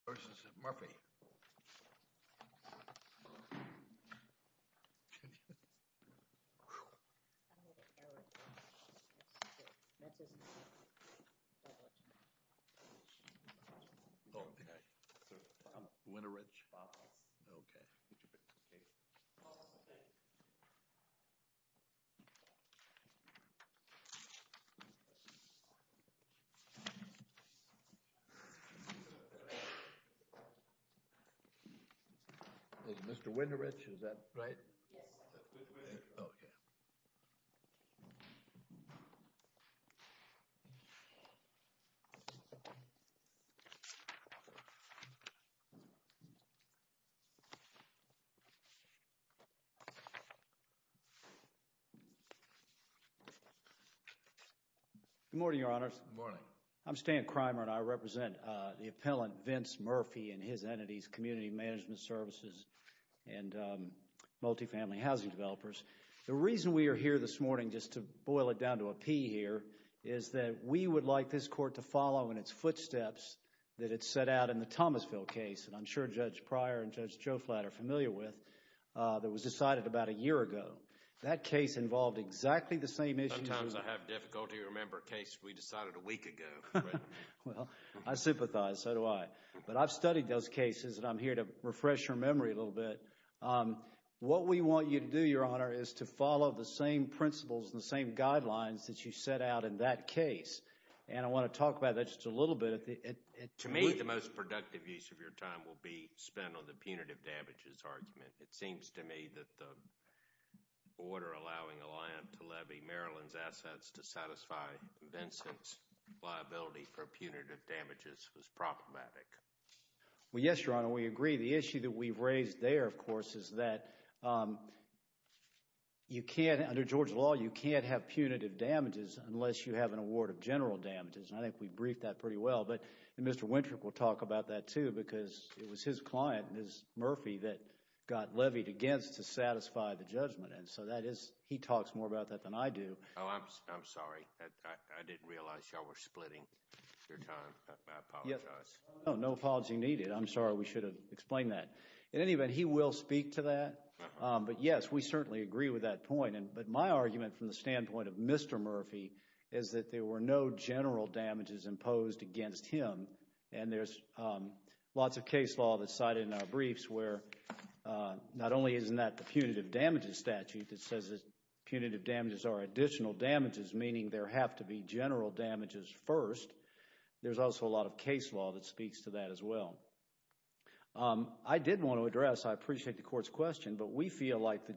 v. M. Vincent Murphy, III, Appellants M. Vincent Murphy, III, Appellants M. Vincent Murphy, III, Appellants M. Vincent Murphy, III, Appellants M. Vincent Murphy, III, Appellants M. Vincent Murphy, III, Appellants M. Vincent Murphy, III, Appellants I did want to address, I appreciate the Court's question, but we feel like the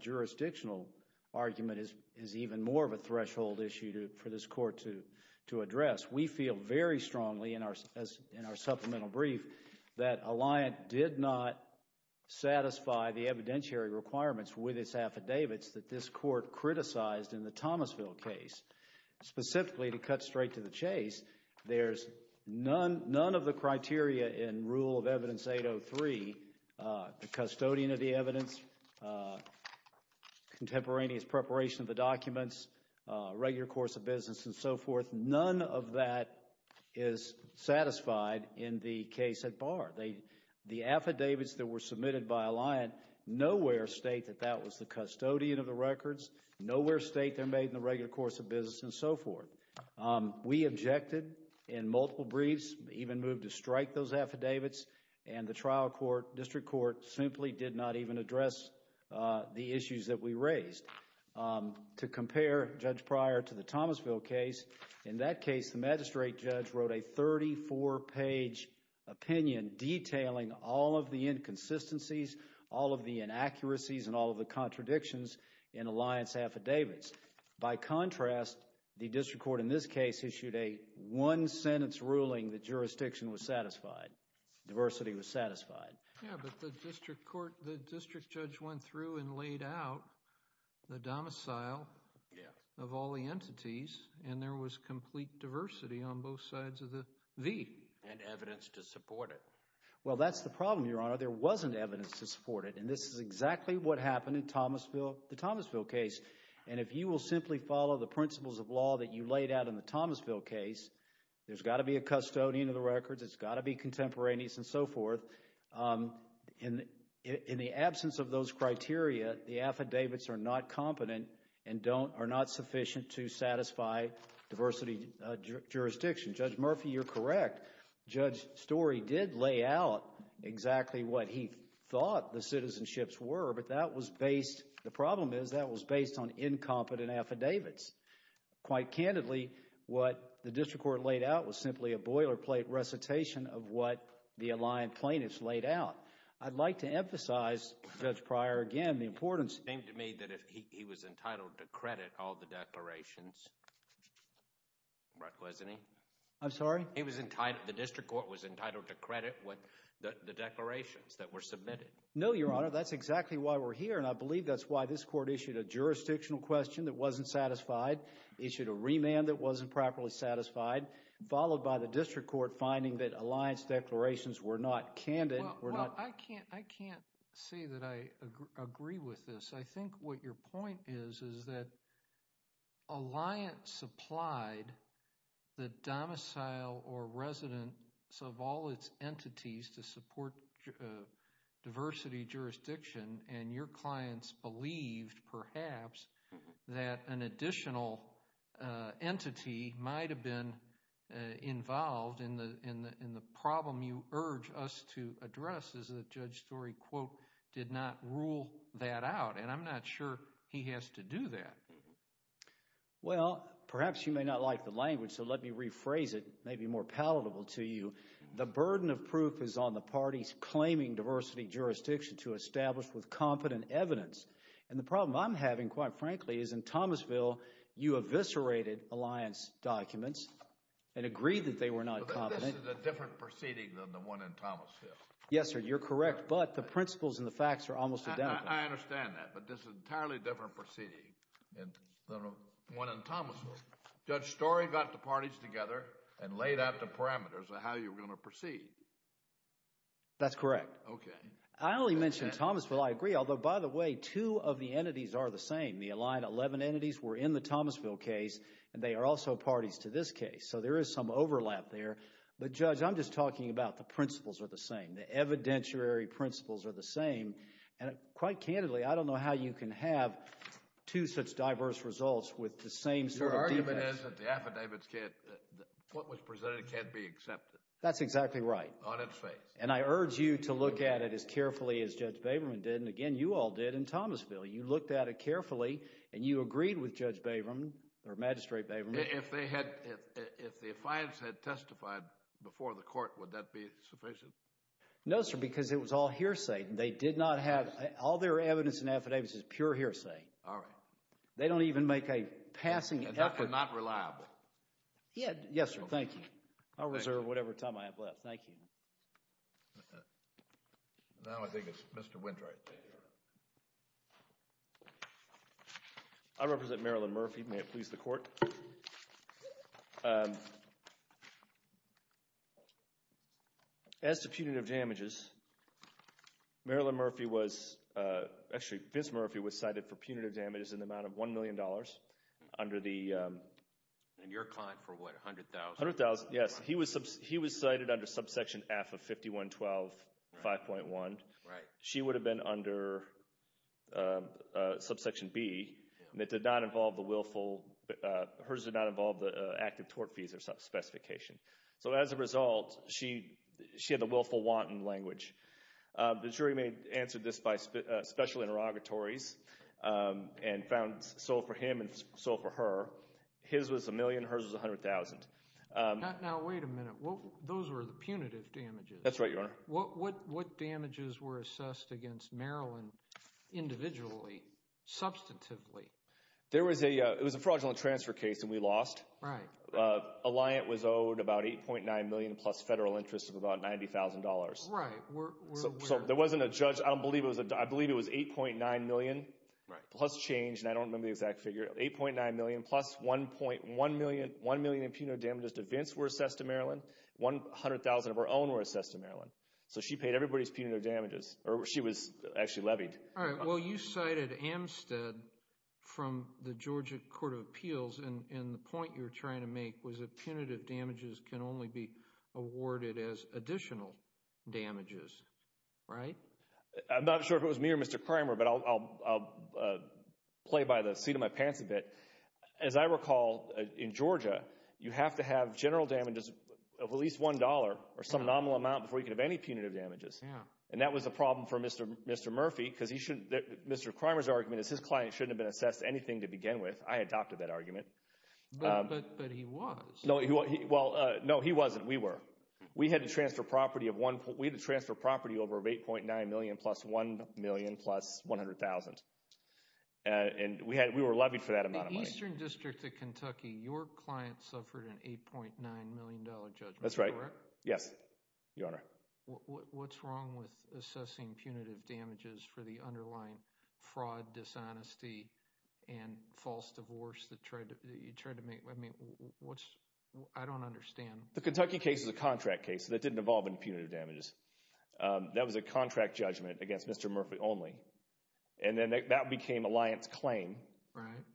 jurisdictional argument is even more of a threshold issue for this Court to address. We feel very strongly in our supplemental brief that Alliant did not satisfy the evidentiary requirements with its affidavits that this Court criticized in the Thomasville case. Specifically, to cut straight to the chase, there's none of the criteria in rule of evidence 803, the custodian of the evidence, contemporaneous preparation of the documents, regular course of business and so forth, none of that is satisfied in the case at bar. The affidavits that were submitted by Alliant nowhere state that that was the custodian of the records, nowhere state they're made in the regular course of business and so forth. We objected in multiple briefs, even moved to strike those affidavits and the trial court, district court, simply did not even address the issues that we raised. To compare, Judge Pryor, to the Thomasville case, in that case the magistrate judge wrote a thirty-four page opinion detailing all of the inconsistencies, all of the inaccuracies and all of the contradictions in Alliant's affidavits. By contrast, the district court in this case issued a one-sentence ruling that jurisdiction was satisfied, diversity was satisfied. Yeah, but the district court, the district judge went through and laid out the domicile of all the entities and there was complete diversity on both sides of the V. And evidence to support it. Well, that's the problem, Your Honor. There wasn't evidence to support it and this is exactly what happened in Thomasville, the Thomasville case. And if you will simply follow the principles of law that you laid out in the Thomasville case, there's got to be a custodian of the records, it's got to be contemporaneous and so forth. In the absence of those criteria, the affidavits are not competent and are not sufficient to satisfy diversity jurisdiction. Judge Murphy, you're correct. Judge Story did lay out exactly what he thought the citizenships were, but that was based The problem is that was based on incompetent affidavits. Quite candidly, what the district court laid out was simply a boilerplate recitation of what the aligned plaintiffs laid out. I'd like to emphasize, Judge Pryor, again, the importance It seemed to me that he was entitled to credit all the declarations, wasn't he? I'm sorry? He was entitled, the district court was entitled to credit the declarations that were submitted. No, Your Honor. That's exactly why we're here, and I believe that's why this court issued a jurisdictional question that wasn't satisfied, issued a remand that wasn't properly satisfied, followed by the district court finding that Alliance declarations were not candid. Well, I can't say that I agree with this. I think what your point is is that Alliance supplied the domicile or residents of all its entities to support diversity jurisdiction, and your clients believed, perhaps, that an additional entity might have been involved in the problem you urge us to address is that Judge Story, quote, did not rule that out, and I'm not sure he has to do that. Well, perhaps you may not like the language, so let me rephrase it, maybe more palatable to you. The burden of proof is on the parties claiming diversity jurisdiction to establish with competent evidence, and the problem I'm having, quite frankly, is in Thomasville, you eviscerated Alliance documents and agreed that they were not competent. But this is a different proceeding than the one in Thomasville. Yes, sir, you're correct, but the principles and the facts are almost identical. I understand that, but this is an entirely different proceeding than the one in Thomasville. Judge Story got the parties together and laid out the parameters of how you were going to proceed. That's correct. Okay. I only mentioned Thomasville. I agree, although, by the way, two of the entities are the same. The Alliance 11 entities were in the Thomasville case, and they are also parties to this case, so there is some overlap there, but Judge, I'm just talking about the principles are the same. The evidentiary principles are the same, and quite candidly, I don't know how you can have two such diverse results with the same sort of difference. Your argument is that the affidavits can't, what was presented can't be accepted. That's exactly right. On its face. And I urge you to look at it as carefully as Judge Baberman did, and again, you all did in Thomasville. You looked at it carefully, and you agreed with Judge Baberman, or Magistrate Baberman. If they had, if the affiance had testified before the court, would that be sufficient? No, sir, because it was all hearsay, and they did not have, all their evidence and affidavits is pure hearsay. All right. They don't even make a passing effort. And that's not reliable. Yes, sir. Thank you. I'll reserve whatever time I have left. Thank you. Now I think it's Mr. Wintright's turn. I represent Marilyn Murphy. As to punitive damages, Marilyn Murphy was, actually, Vince Murphy was the one who was cited for punitive damages in the amount of $1 million under the— And your client for what, $100,000? $100,000, yes. He was cited under subsection F of 51-12-5.1. Right. She would have been under subsection B, and it did not involve the willful—hers did not involve the active tort fees or specification. So, as a result, she had the willful wanton language. The jury answered this by special interrogatories and found sole for him and sole for her. His was $1 million. Hers was $100,000. Now, wait a minute. Those were the punitive damages. That's right, Your Honor. What damages were assessed against Marilyn individually, substantively? It was a fraudulent transfer case, and we lost. Right. A liant was owed about $8.9 million plus federal interest of about $90,000. Right. So, there wasn't a judge. I believe it was $8.9 million plus change, and I don't remember the exact figure. $8.9 million plus $1 million in punitive damages to Vince were assessed to Marilyn. $100,000 of her own were assessed to Marilyn. So, she paid everybody's punitive damages, or she was actually levied. All right. Well, you cited Amstead from the Georgia Court of Appeals, and the point you were trying to make was that punitive damages can only be awarded as additional damages. Right? I'm not sure if it was me or Mr. Kramer, but I'll play by the seat of my pants a bit. As I recall, in Georgia, you have to have general damages of at least $1 or some nominal amount before you can have any punitive damages, and that was a problem for Mr. Murphy because Mr. Kramer's argument is his client shouldn't have been assessed to anything to begin with. I adopted that argument. But he was. Well, no, he wasn't. We were. We had to transfer property over of $8.9 million plus $1 million plus $100,000, and we were levied for that amount of money. In the Eastern District of Kentucky, your client suffered an $8.9 million judgment, correct? That's right. Yes, Your Honor. What's wrong with assessing punitive damages for the underlying fraud, dishonesty, and false divorce that you tried to make? I don't understand. The Kentucky case is a contract case that didn't involve any punitive damages. That was a contract judgment against Mr. Murphy only, and then that became a liance claim,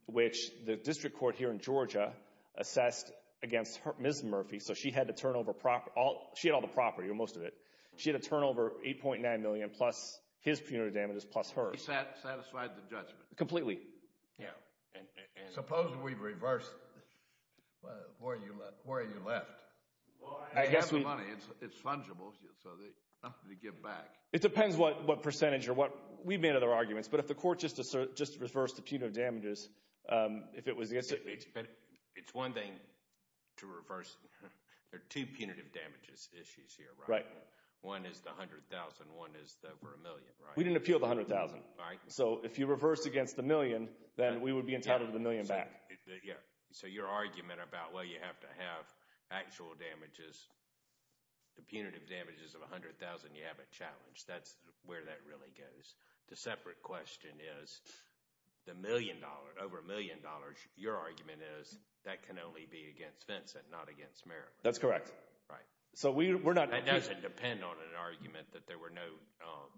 which the district court here in Georgia assessed against Ms. Murphy, so she had to turn over all the property or most of it. She had to turn over $8.9 million plus his punitive damages plus hers. He satisfied the judgment? Completely. Yeah. Suppose we reversed where you left. I have the money. It's fungible, so I'm going to give it back. It depends what percentage or what. We've made other arguments, but if the court just reversed the punitive damages, if it was... It's one thing to reverse. There are two punitive damages issues here, right? Right. One is the $100,000. One is the over $1 million, right? We didn't appeal the $100,000. Right. So if you reverse against the million, then we would be entitled to the million back. Yeah. So your argument about, well, you have to have actual damages, the punitive damages of $100,000, you have a challenge. That's where that really goes. The separate question is the million dollars, over $1 million, your argument is that can only be against Vincent, not against Mary. That's correct. Right. So we're not... It doesn't depend on an argument that there were no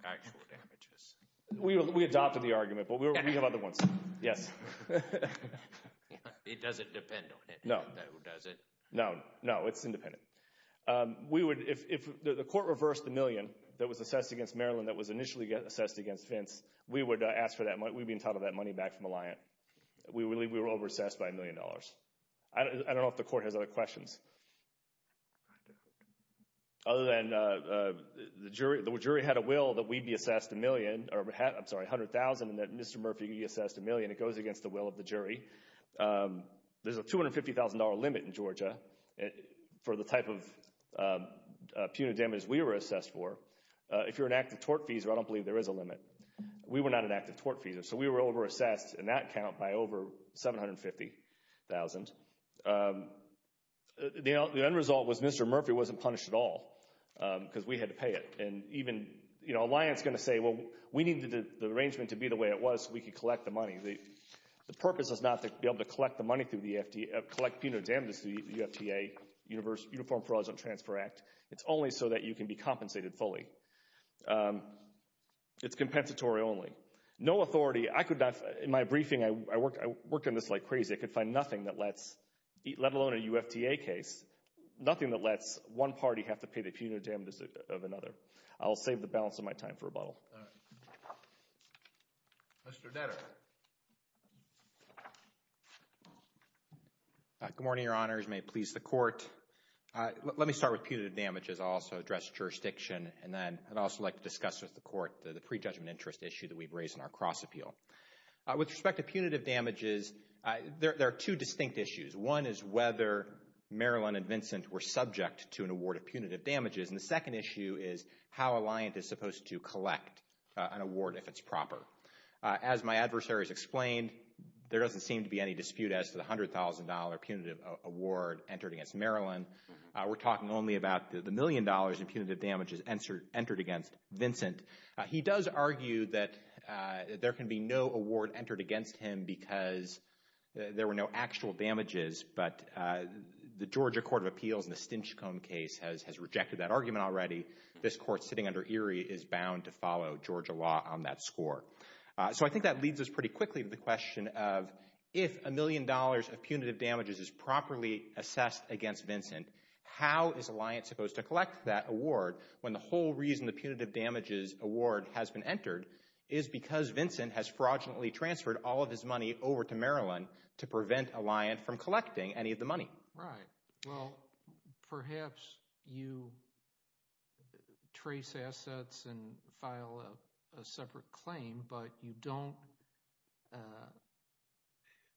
actual damages. We adopted the argument, but we have other ones. Yes. It doesn't depend on it. No. No, it doesn't. No. No, it's independent. We would, if the court reversed the million that was assessed against Marilyn that was initially assessed against Vince, we would be entitled to that money back from Alliant. We were over-assessed by $1 million. I don't know if the court has other questions. Other than the jury had a will that we'd be assessed $100,000 and that Mr. Murphy would be assessed $1 million. It goes against the will of the jury. There's a $250,000 limit in Georgia for the type of punitive damages we were assessed for. If you're an active tort feaser, I don't believe there is a limit. We were not an active tort feaser, so we were over-assessed in that count by over $750,000. The end result was Mr. Murphy wasn't punished at all because we had to pay it. And even, you know, Alliant's going to say, well, we needed the arrangement to be the way it was so we could collect the money. The purpose is not to be able to collect the money through the FTA, collect punitive damages through the UFTA, Uniform Fraud and Transfer Act. It's only so that you can be compensated fully. It's compensatory only. No authority. I could not, in my briefing, I worked on this like crazy. I could find nothing that lets, let alone a UFTA case, nothing that lets one party have to pay the punitive damages of another. I'll save the balance of my time for rebuttal. All right. Mr. Netter. Good morning, Your Honors. May it please the Court. Let me start with punitive damages. I'll also address jurisdiction. And then I'd also like to discuss with the Court the prejudgment interest issue that we've raised in our cross-appeal. With respect to punitive damages, there are two distinct issues. One is whether Marilyn and Vincent were subject to an award of punitive damages. And the second issue is how Alliant is supposed to collect an award if it's proper. As my adversaries explained, there doesn't seem to be any dispute as to the $100,000 punitive award entered against Marilyn. We're talking only about the million dollars in punitive damages entered against Vincent. He does argue that there can be no award entered against him because there were no actual damages. But the Georgia Court of Appeals in the Stinchcomb case has rejected that argument already. This Court sitting under Erie is bound to follow Georgia law on that score. So I think that leads us pretty quickly to the question of if a million dollars of punitive damages is properly assessed against Vincent, how is Alliant supposed to collect that award when the whole reason the punitive damages award has been entered is because Vincent has fraudulently transferred all of his money over to Marilyn to prevent Alliant from collecting any of the money? Right. Well, perhaps you trace assets and file a separate claim, but you don't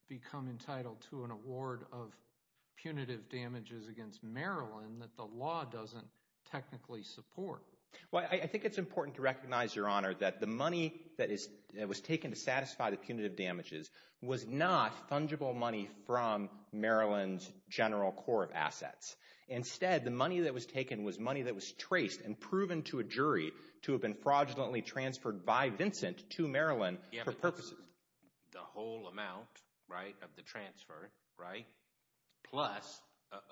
become entitled to an award of punitive damages against Marilyn that the law doesn't technically support. Well, I think it's important to recognize, Your Honor, that the money that was taken to satisfy the punitive damages was not fungible money from Marilyn's general core of assets. Instead, the money that was taken was money that was traced and proven to a jury to have been fraudulently transferred by Vincent to Marilyn for purposes. The whole amount, right, of the transfer, right, plus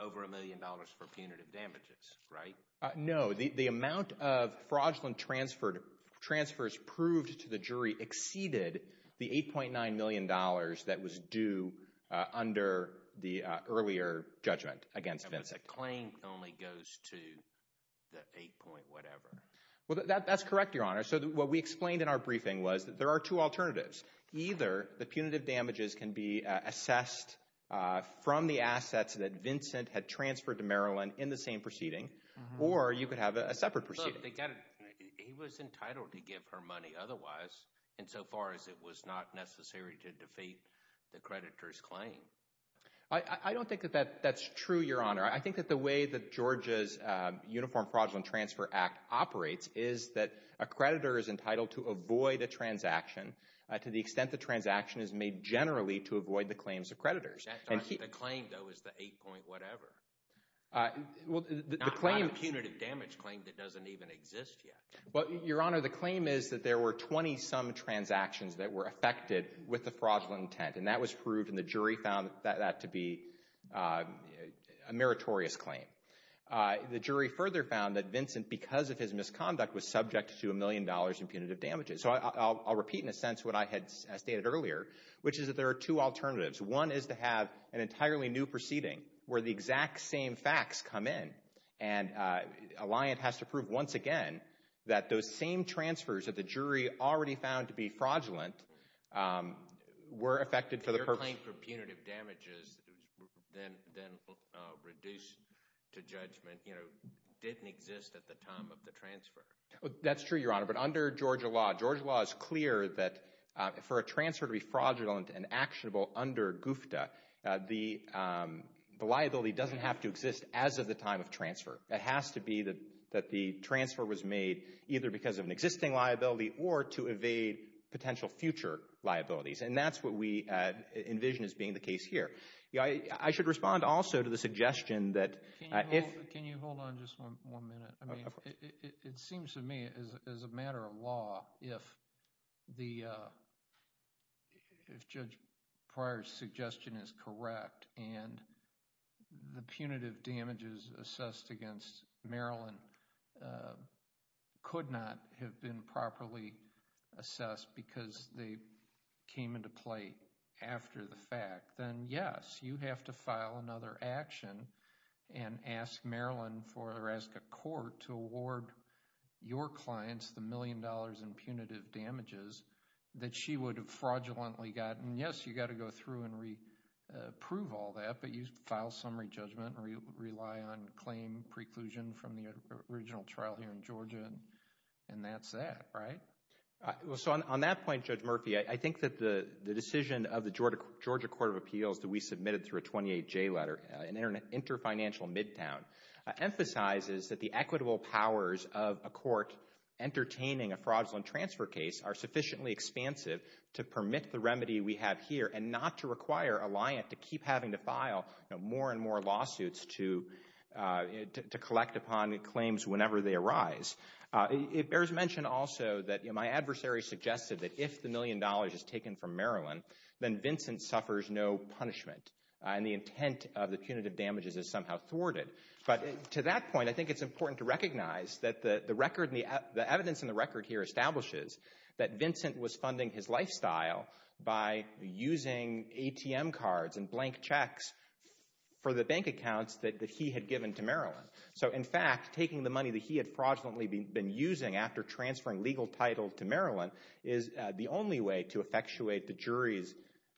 over a million dollars for punitive damages, right? No. The amount of fraudulent transfers proved to the jury exceeded the $8.9 million that was due under the earlier judgment against Vincent. The claim only goes to the 8 point whatever. Well, that's correct, Your Honor. So what we explained in our briefing was that there are two alternatives. Either the punitive damages can be assessed from the assets that Vincent had transferred to Marilyn in the same proceeding, or you could have a separate proceeding. He was entitled to give her money otherwise insofar as it was not necessary to defeat the creditor's claim. I don't think that that's true, Your Honor. I think that the way that Georgia's Uniform Fraudulent Transfer Act operates is that a creditor is entitled to avoid a transaction to the extent the transaction is made generally to avoid the claims of creditors. The claim, though, is the 8 point whatever. Not a punitive damage claim that doesn't even exist yet. Your Honor, the claim is that there were 20 some transactions that were affected with the fraudulent intent. And that was proved, and the jury found that to be a meritorious claim. The jury further found that Vincent, because of his misconduct, was subject to a million dollars in punitive damages. So I'll repeat in a sense what I had stated earlier, which is that there are two alternatives. One is to have an entirely new proceeding where the exact same facts come in. And a liant has to prove once again that those same transfers that the jury already found to be fraudulent were affected for the purpose... Your claim for punitive damages then reduced to judgment, you know, didn't exist at the time of the transfer. That's true, Your Honor. But under Georgia law, Georgia law is clear that for a transfer to be fraudulent and actionable under GUFTA, the liability doesn't have to exist as of the time of transfer. It has to be that the transfer was made either because of an existing liability or to evade potential future liabilities. And that's what we envision as being the case here. I should respond also to the suggestion that if... Can you hold on just one minute? Of course. I mean, it seems to me as a matter of law, if the, if Judge Pryor's suggestion is correct and the punitive damages assessed against Marilyn could not have been properly assessed because they came into play after the fact, then yes, you have to file another action and ask Marilyn for, or ask a court to award your clients the million dollars in punitive damages that she would have fraudulently gotten. And yes, you've got to go through and re-approve all that, but you file summary judgment and rely on claim preclusion from the original trial here in Georgia, and that's that, right? So on that point, Judge Murphy, I think that the decision of the Georgia Court of Appeals that we submitted through a 28-J letter, an interfinancial midtown, emphasizes that the equitable powers of a court entertaining a fraudulent transfer case are sufficiently expansive to permit the remedy we have here and not to require a liant to keep having to file more and more lawsuits to collect upon claims whenever they arise. It bears mention also that my adversary suggested that if the million dollars is taken from Marilyn, then Vincent suffers no punishment, and the intent of the punitive damages is somehow thwarted. But to that point, I think it's important to recognize that the record, the evidence in the record here establishes that Vincent was funding his lifestyle by using ATM cards and blank checks for the bank accounts that he had given to Marilyn. So, in fact, taking the money that he had fraudulently been using after transferring legal title to Marilyn is the only way to effectuate the jury's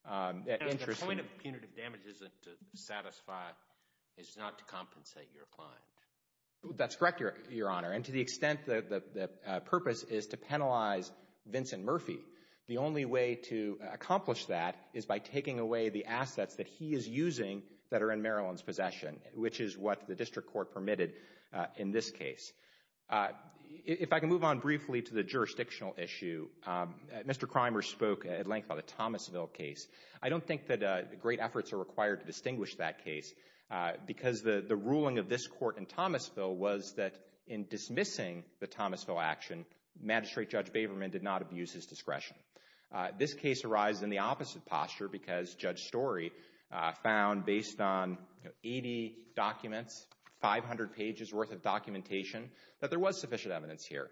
interest. And the point of punitive damages to satisfy is not to compensate your client. That's correct, Your Honor. And to the extent that the purpose is to penalize Vincent Murphy, the only way to accomplish that is by taking away the assets that he is using that are in Marilyn's possession, which is what the district court permitted in this case. If I can move on briefly to the jurisdictional issue, Mr. Krimer spoke at length about the Thomasville case. I don't think that great efforts are required to distinguish that case because the ruling of this court in Thomasville was that in dismissing the Thomasville action, Magistrate Judge Baberman did not abuse his discretion. This case arises in the opposite posture because Judge Story found, based on 80 documents, 500 pages worth of documentation, that there was sufficient evidence here.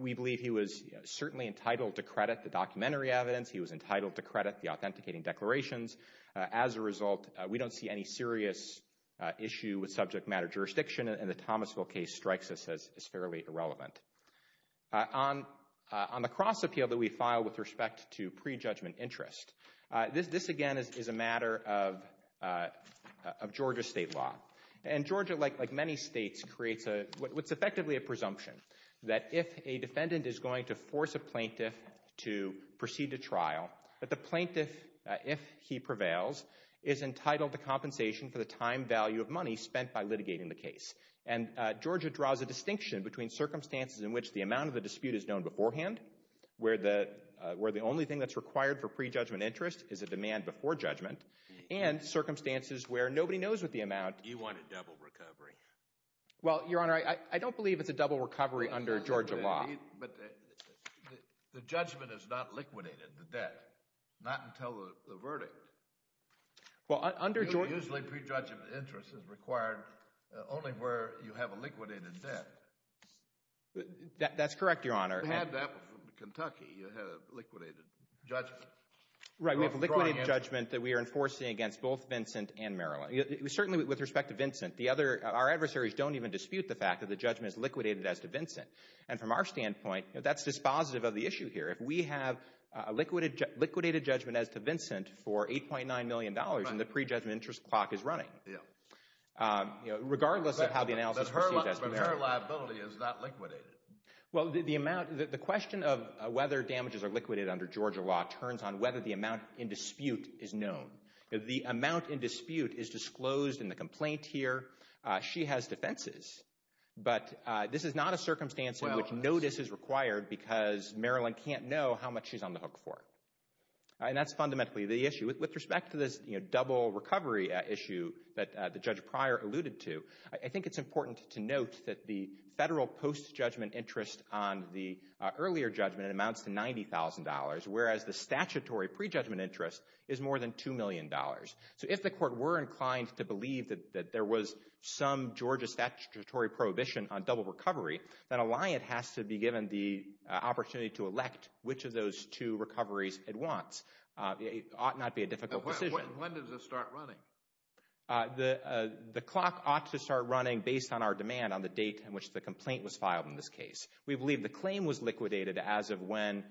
We believe he was certainly entitled to credit the documentary evidence. He was entitled to credit the authenticating declarations. As a result, we don't see any serious issue with subject matter jurisdiction. And the Thomasville case strikes us as fairly irrelevant. On the cross-appeal that we filed with respect to prejudgment interest, this, again, is a matter of Georgia state law. And Georgia, like many states, creates what's effectively a presumption that if a defendant is going to force a plaintiff to proceed to trial, that the plaintiff, if he prevails, is entitled to compensation for the time value of money spent by litigating the case. And Georgia draws a distinction between circumstances in which the amount of the dispute is known beforehand, where the only thing that's required for prejudgment interest is a demand before judgment, and circumstances where nobody knows what the amount... You want a double recovery. Well, Your Honor, I don't believe it's a double recovery under Georgia law. But the judgment is not liquidated, the debt. Not until the verdict. Well, under Georgia... Usually, prejudgment interest is required only where you have a liquidated debt. That's correct, Your Honor. You had that with Kentucky. You had a liquidated judgment. Right, we have a liquidated judgment that we are enforcing against both Vincent and Maryland. Certainly, with respect to Vincent, the other... Our adversaries don't even dispute the fact that the judgment is liquidated as to Vincent. And from our standpoint, that's dispositive of the issue here. If we have a liquidated judgment as to Vincent for $8.9 million, then the prejudgment interest clock is running. Regardless of how the analysis... But her liability is not liquidated. Well, the question of whether damages are liquidated under Georgia law turns on whether the amount in dispute is known. The amount in dispute is disclosed in the complaint here. She has defenses. But this is not a circumstance in which notice is required because Maryland can't know how much she's on the hook for. And that's fundamentally the issue. With respect to this double recovery issue that the judge prior alluded to, I think it's important to note that the federal post-judgment interest on the earlier judgment amounts to $90,000, whereas the statutory prejudgment interest is more than $2 million. So if the court were inclined to believe that there was some Georgia statutory prohibition on double recovery, then a liant has to be given the opportunity to elect which of those two recoveries it wants. It ought not be a difficult decision. When does it start running? The clock ought to start running based on our demand on the date on which the complaint was filed in this case. We believe the claim was liquidated as of when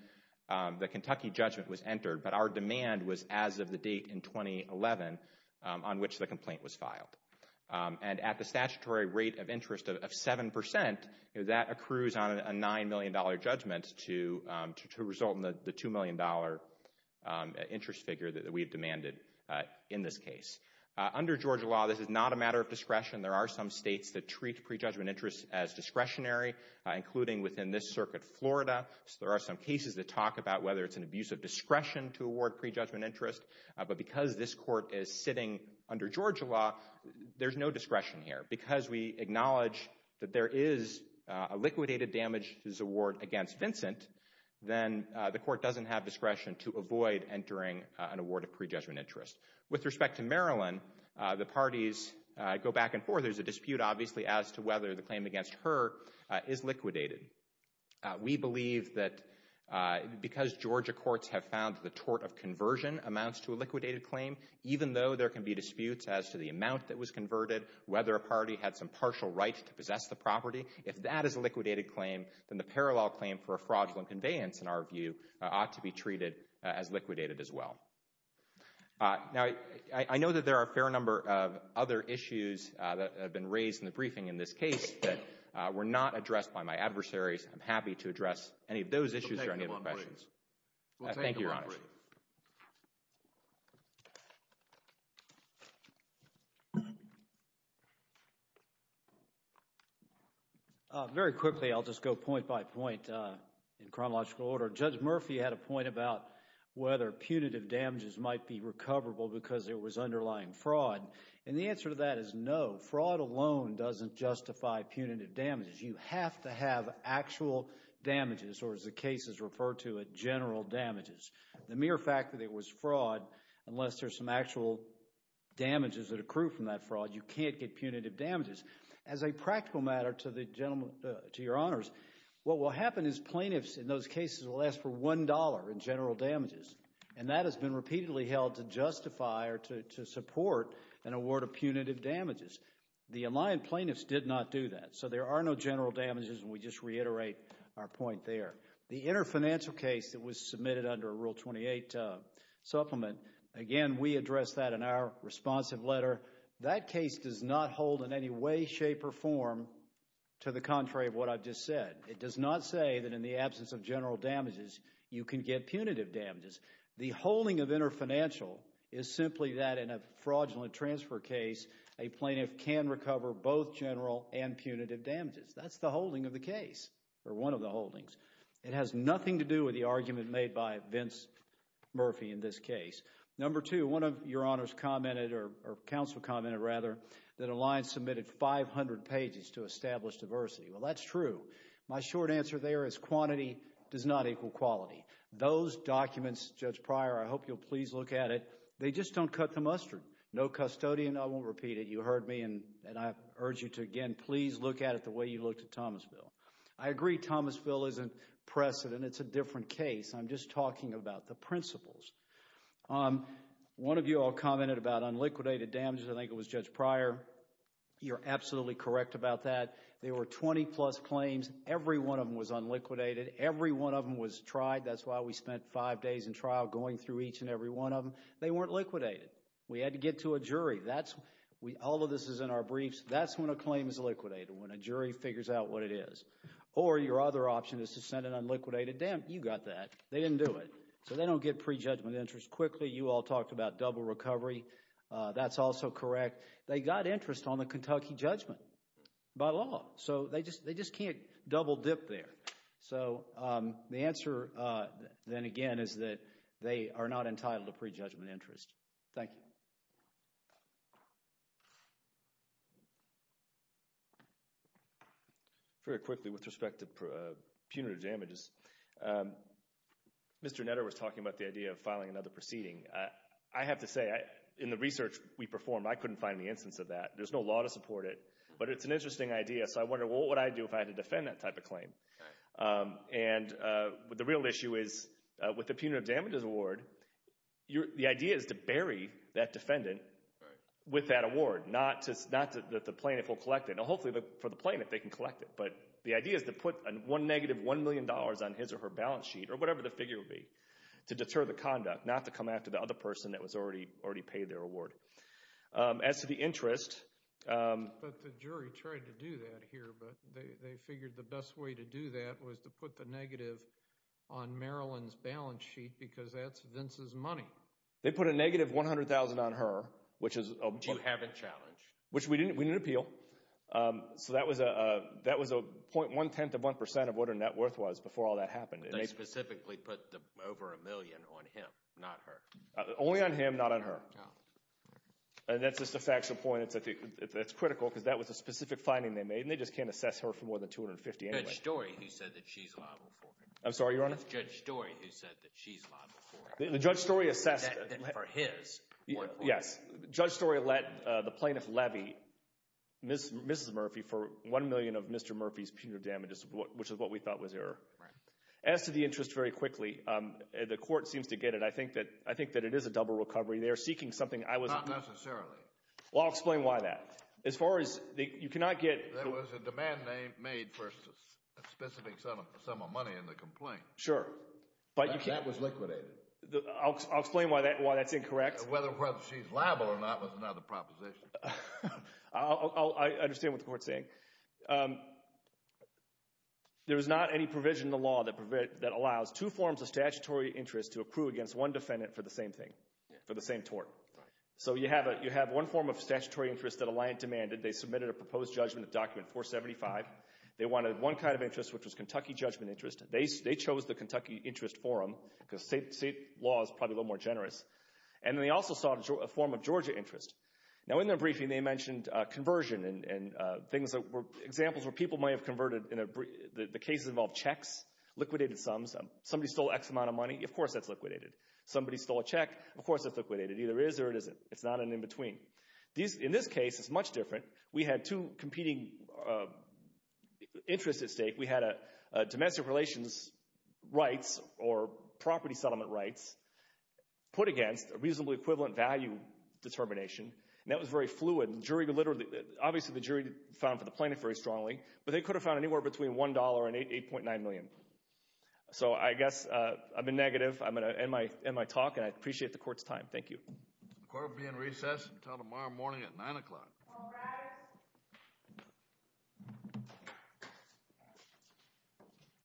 the Kentucky judgment was entered, but our demand was as of the date in 2011 on which the complaint was filed. And at the statutory rate of interest of 7%, that accrues on a $9 million judgment to result in the $2 million interest figure that we have demanded in this case. Under Georgia law, this is not a matter of discretion. There are some states that treat prejudgment interest as discretionary, including within this circuit, Florida. There are some cases that talk about whether it's an abuse of discretion to award prejudgment interest, but because this court is sitting under Georgia law, there's no discretion here. Because we acknowledge that there is a liquidated damages award against Vincent, then the court doesn't have discretion to avoid entering an award of prejudgment interest. With respect to Marilyn, the parties go back and forth. There's a dispute, obviously, as to whether the claim against her is liquidated. We believe that because Georgia courts have found the tort of conversion amounts to a liquidated claim, even though there can be disputes as to the amount that was converted, whether a party had some partial right to possess the property, if that is a liquidated claim, then the parallel claim for a fraudulent conveyance, in our view, ought to be treated as liquidated as well. Now, I know that there are a fair number of other issues that have been raised in the briefing in this case that were not addressed by my adversaries. I'm happy to address any of those issues or any other questions. Thank you, Your Honor. Very quickly, I'll just go point by point in chronological order. Judge Murphy had a point about whether punitive damages might be recoverable because there was underlying fraud, and the answer to that is no. Fraud alone doesn't justify punitive damages. You have to have actual damages, or as the cases refer to it, general damages. The mere fact that it was fraud, unless there's some actual damages that accrue from that fraud, you can't get punitive damages. As a practical matter to Your Honors, what will happen is plaintiffs in those cases will ask for $1 in general damages, and that has been repeatedly held to justify or to support an award of punitive damages. The Alliant plaintiffs did not do that, so there are no general damages, and we just reiterate our point there. The interfinancial case that was submitted under Rule 28 Supplement, again, we addressed that in our responsive letter. That case does not hold in any way, shape, or form to the contrary of what I've just said. It does not say that in the absence of general damages, you can get punitive damages. The holding of interfinancial is simply that in a fraudulent transfer case, a plaintiff can recover both general and punitive damages. That's the holding of the case, or one of the holdings. It has nothing to do with the argument made by Vince Murphy in this case. Number two, one of Your Honors commented, or counsel commented rather, that Alliant submitted 500 pages to establish diversity. Well, that's true. My short answer there is quantity does not equal quality. Those documents, Judge Pryor, I hope you'll please look at it, they just don't cut the mustard. No custodian, I won't repeat it. You heard me, and I urge you to, again, please look at it the way you looked at Thomasville. I agree Thomasville isn't precedent. It's a different case. I'm just talking about the principles. One of you all commented about unliquidated damages. I think it was Judge Pryor. You're absolutely correct about that. There were 20 plus claims. Every one of them was unliquidated. Every one of them was tried. That's why we spent five days in trial going through each and every one of them. They weren't liquidated. We had to get to a jury. All of this is in our briefs. That's when a claim is liquidated, when a jury figures out what it is. Or your other option is to send an unliquidated. Damn, you got that. They didn't do it. So they don't get prejudgment interest quickly. You all talked about double recovery. That's also correct. They got interest on the Kentucky judgment by law. So they just can't double dip there. So the answer then again is that they are not entitled to prejudgment interest. Thank you. Very quickly with respect to punitive damages. Mr. Netter was talking about the idea of filing another proceeding. I have to say in the research we performed, I couldn't find any instance of that. There's no law to support it. But it's an interesting idea. So I wondered what would I do if I had to defend that type of claim? The real issue is with the punitive damages award, the idea is to bury that defendant with that award. Not that the plaintiff will collect it. Hopefully for the plaintiff they can collect it. But the idea is to put one negative one million dollars on his or her balance sheet or whatever the figure would be to deter the conduct. Not to come after the other person that was already paid their award. As to the interest But the jury tried to do that here but they figured the best way to do that was to put the negative on Marilyn's balance sheet because that's Vince's money. They put a negative 100,000 on her. Which you haven't challenged. Which we didn't appeal. So that was 0.1% to 1% of what her net worth was They specifically put over a million on him not her. Only on him, not on her. And that's just a factual point. It's critical because that was a specific finding they made and they just can't assess her for more than $250,000 anyway. It's Judge Story who said that she's liable for it. The Judge Story assessed Judge Story let the plaintiff levy Mrs. Murphy for one million of Mr. Murphy's damages, which is what we thought was error. As to the interest very quickly, the court seems to get it. I think that it is a double recovery. They are seeking something Not necessarily. Well I'll explain why that. There was a demand made for a specific sum of money in the complaint. That was liquidated. I'll explain why that's incorrect. Whether she's liable or not was another proposition. I understand what the court is saying. There is not any provision in the law that allows two forms of statutory interest to accrue against one defendant for the same thing, for the same tort. So you have one form of statutory interest that Alliant demanded. They submitted a proposed judgment document, 475. They wanted one kind of interest, which was Kentucky Judgment Interest. They chose the Kentucky Interest Forum because state law is probably a little more generous. And they also sought a form of Georgia Interest. Now in their briefing, they mentioned conversion and examples where people might have converted the cases involved checks, liquidated sums. Somebody stole X amount of money, of course that's liquidated. Somebody stole a check, of course that's liquidated. It either is or it isn't. It's not an in-between. In this case, it's much different. We had two competing interests at stake. We had domestic relations rights or property settlement rights put against a reasonably equivalent value determination. That was very fluid. Obviously the jury found for the plaintiff very strongly, but they could have found anywhere between $1 and $8.9 million. So I guess I've been negative. I'm going to end my talk. I appreciate the court's time. Thank you. The court will be in recess until tomorrow morning at 9 o'clock. Thank you.